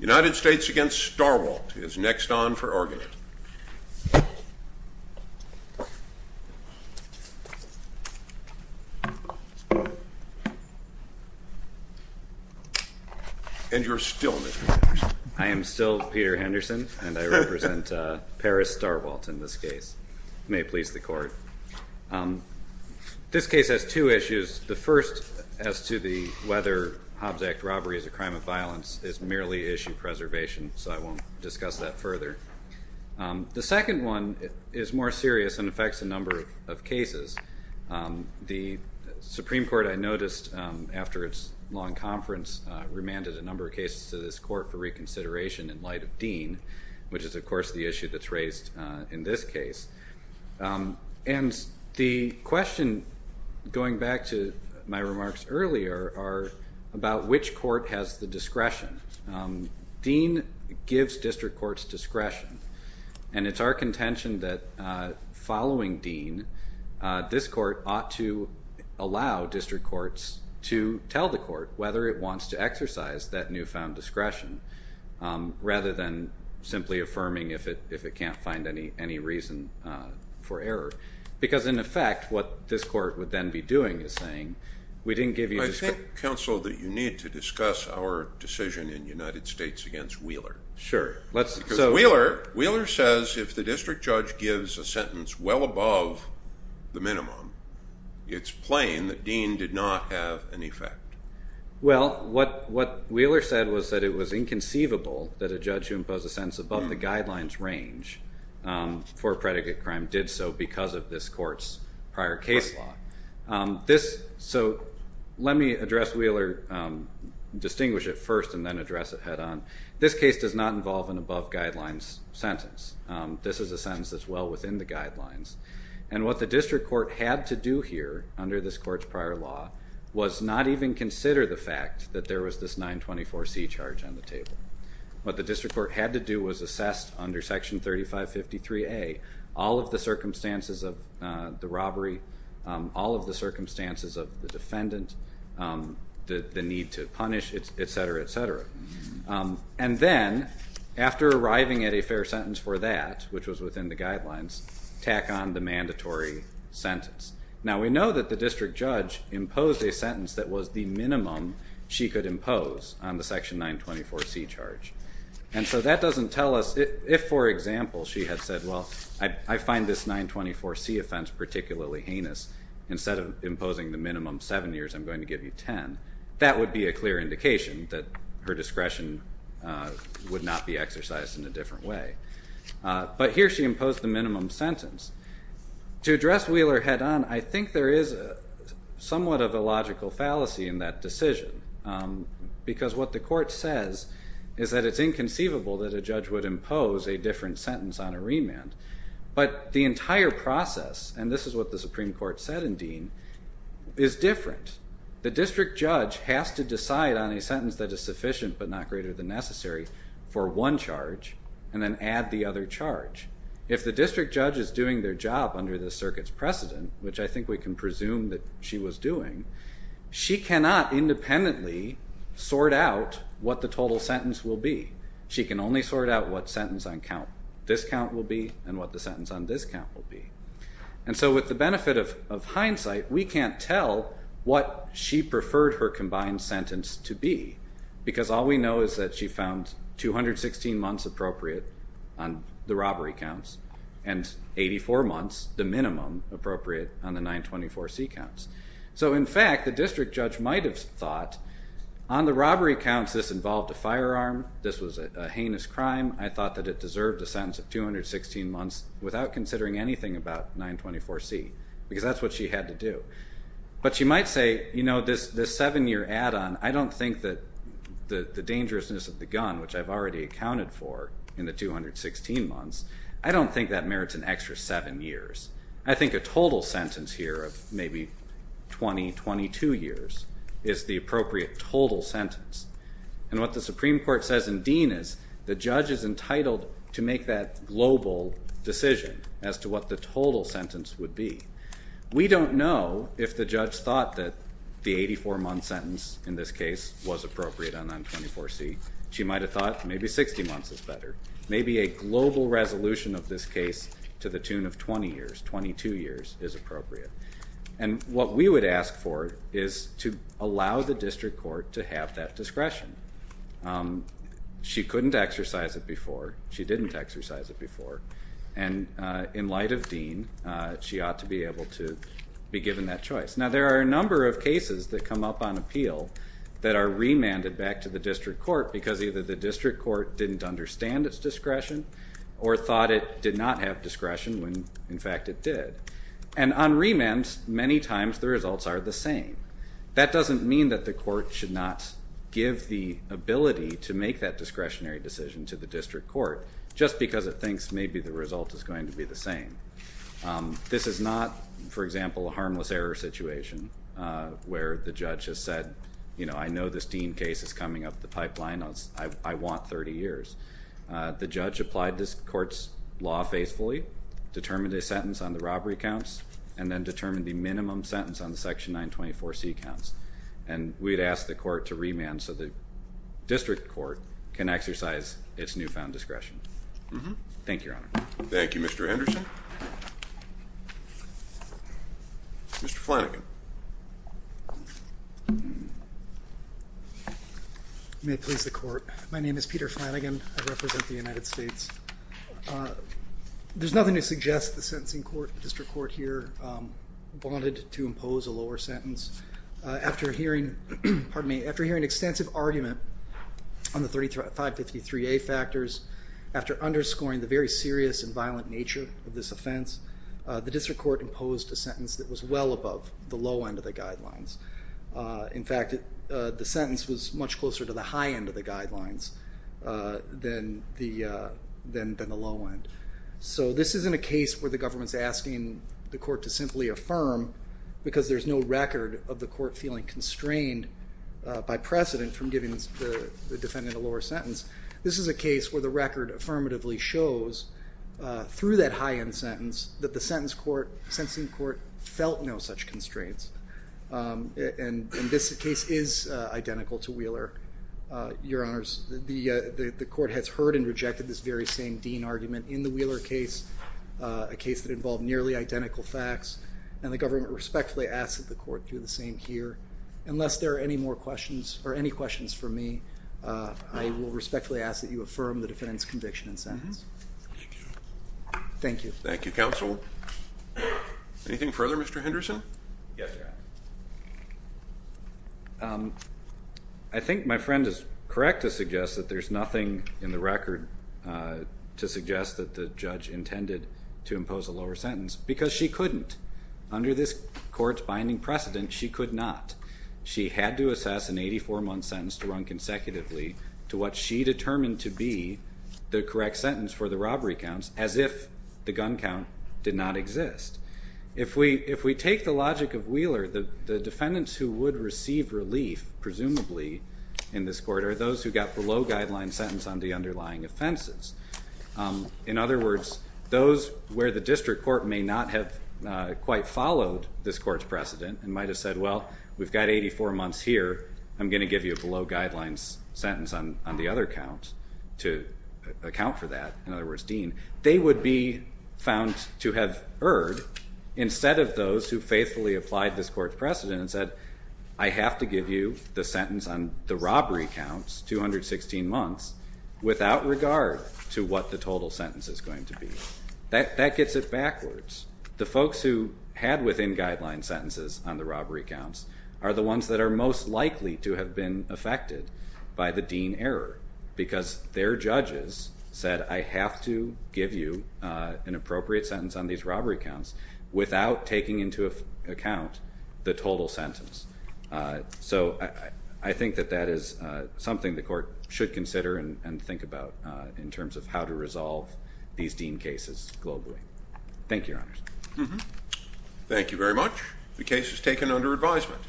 United States v. Starwalt is next on for argument. And you're still Mr. Henderson. I am still Peter Henderson and I represent Paris Starwalt in this case. May it please the court. This case has two issues. The first as to whether Hobbs Act robbery is a crime of violence is merely issue preservation. So I won't discuss that further. The second one is more serious and affects a number of cases. The Supreme Court, I noticed after its long conference, remanded a number of cases to this court for reconsideration in light of Dean, which is, of course, the issue that's raised in this case. And the question, going back to my remarks earlier, are about which court has the discretion. Dean gives district courts discretion, and it's our contention that following Dean, this court ought to allow district courts to tell the court whether it wants to exercise that newfound discretion, rather than simply affirming if it can't find any reason for error. Because, in effect, what this court would then be doing is saying, we didn't give you discretion. I think, counsel, that you need to discuss our decision in the United States against Wheeler. Sure. Wheeler says if the district judge gives a sentence well above the minimum, it's plain that Dean did not have an effect. Well, what Wheeler said was that it was inconceivable that a judge who imposed a sentence above the guidelines range for a predicate crime did so because of this court's prior case law. So let me address Wheeler, distinguish it first, and then address it head on. This case does not involve an above guidelines sentence. This is a sentence that's well within the guidelines. And what the district court had to do here, under this court's prior law, was not even consider the fact that there was this 924C charge on the table. What the district court had to do was assess, under Section 3553A, all of the circumstances of the robbery, all of the circumstances of the defendant, the need to punish, et cetera, et cetera. And then, after arriving at a fair sentence for that, which was within the guidelines, tack on the mandatory sentence. Now, we know that the district judge imposed a sentence that was the minimum she could impose on the Section 924C charge. And so that doesn't tell us if, for example, she had said, well, I find this 924C offense particularly heinous. Instead of imposing the minimum 7 years, I'm going to give you 10. That would be a clear indication that her discretion would not be exercised in a different way. But here she imposed the minimum sentence. To address Wheeler head on, I think there is somewhat of a logical fallacy in that decision, because what the court says is that it's inconceivable that a judge would impose a different sentence on a remand. But the entire process, and this is what the Supreme Court said in Dean, is different. The district judge has to decide on a sentence that is sufficient, but not greater than necessary, for one charge and then add the other charge. If the district judge is doing their job under the circuit's precedent, which I think we can presume that she was doing, she cannot independently sort out what the total sentence will be. She can only sort out what sentence on count discount will be and what the sentence on discount will be. And so with the benefit of hindsight, we can't tell what she preferred her combined sentence to be, because all we know is that she found 216 months appropriate on the robbery counts and 84 months, the minimum, appropriate on the 924C counts. So in fact, the district judge might have thought, on the robbery counts, this involved a firearm, this was a heinous crime, I thought that it deserved a sentence of 216 months without considering anything about 924C, because that's what she had to do. But she might say, you know, this seven-year add-on, I don't think that the dangerousness of the gun, which I've already accounted for in the 216 months, I don't think that merits an extra seven years. I think a total sentence here of maybe 20, 22 years is the appropriate total sentence. And what the Supreme Court says in Dean is the judge is entitled to make that global decision as to what the total sentence would be. We don't know if the judge thought that the 84-month sentence in this case was appropriate on 924C. She might have thought maybe 60 months is better. Maybe a global resolution of this case to the tune of 20 years, 22 years, is appropriate. And what we would ask for is to allow the district court to have that discretion. She couldn't exercise it before. She didn't exercise it before. And in light of Dean, she ought to be able to be given that choice. Now, there are a number of cases that come up on appeal that are remanded back to the district court because either the district court didn't understand its discretion or thought it did not have discretion when, in fact, it did. And on remand, many times the results are the same. That doesn't mean that the court should not give the ability to make that discretionary decision to the district court just because it thinks maybe the result is going to be the same. This is not, for example, a harmless error situation where the judge has said, you know, I know this Dean case is coming up the pipeline. I want 30 years. The judge applied this court's law faithfully, determined a sentence on the robbery counts, and then determined the minimum sentence on the Section 924C counts. And we'd ask the court to remand so the district court can exercise its newfound discretion. Thank you, Your Honor. Thank you, Mr. Anderson. Mr. Flanagan. You may please the court. My name is Peter Flanagan. I represent the United States. There's nothing to suggest the sentencing court, district court here, wanted to impose a lower sentence. After hearing an extensive argument on the 553A factors, after underscoring the very serious and violent nature of this offense, the district court imposed a sentence that was well above the low end of the guidelines. In fact, the sentence was much closer to the high end of the guidelines than the low end. So this isn't a case where the government's asking the court to simply affirm because there's no record of the court feeling constrained by precedent from giving the defendant a lower sentence. This is a case where the record affirmatively shows through that high end sentence that the sentencing court felt no such constraints. And this case is identical to Wheeler. Your Honors, the court has heard and rejected this very same Dean argument in the Wheeler case, a case that involved nearly identical facts, and the government respectfully asks that the court do the same here. Unless there are any more questions or any questions for me, I will respectfully ask that you affirm the defendant's conviction and sentence. Thank you. Thank you, Counsel. Anything further, Mr. Henderson? Yes, Your Honor. I think my friend is correct to suggest that there's nothing in the record to suggest that the judge intended to impose a lower sentence because she couldn't. Under this court's binding precedent, she could not. She had to assess an 84-month sentence to run consecutively to what she determined to be the correct sentence for the robbery counts, as if the gun count did not exist. If we take the logic of Wheeler, the defendants who would receive relief, presumably, in this court, are those who got below guideline sentence on the underlying offenses. In other words, those where the district court may not have quite followed this court's precedent and might have said, well, we've got 84 months here, I'm going to give you a below guidelines sentence on the other count to account for that, in other words, Dean, they would be found to have erred instead of those who faithfully applied this court's precedent and said, I have to give you the sentence on the robbery counts, 216 months, without regard to what the total sentence is going to be. That gets it backwards. The folks who had within guideline sentences on the robbery counts are the ones that are most likely to have been affected by the Dean error because their judges said, I have to give you an appropriate sentence on these robbery counts without taking into account the total sentence. So I think that that is something the court should consider and think about in terms of how to resolve these Dean cases globally. Thank you, Your Honors. Thank you very much. The case is taken under advisement.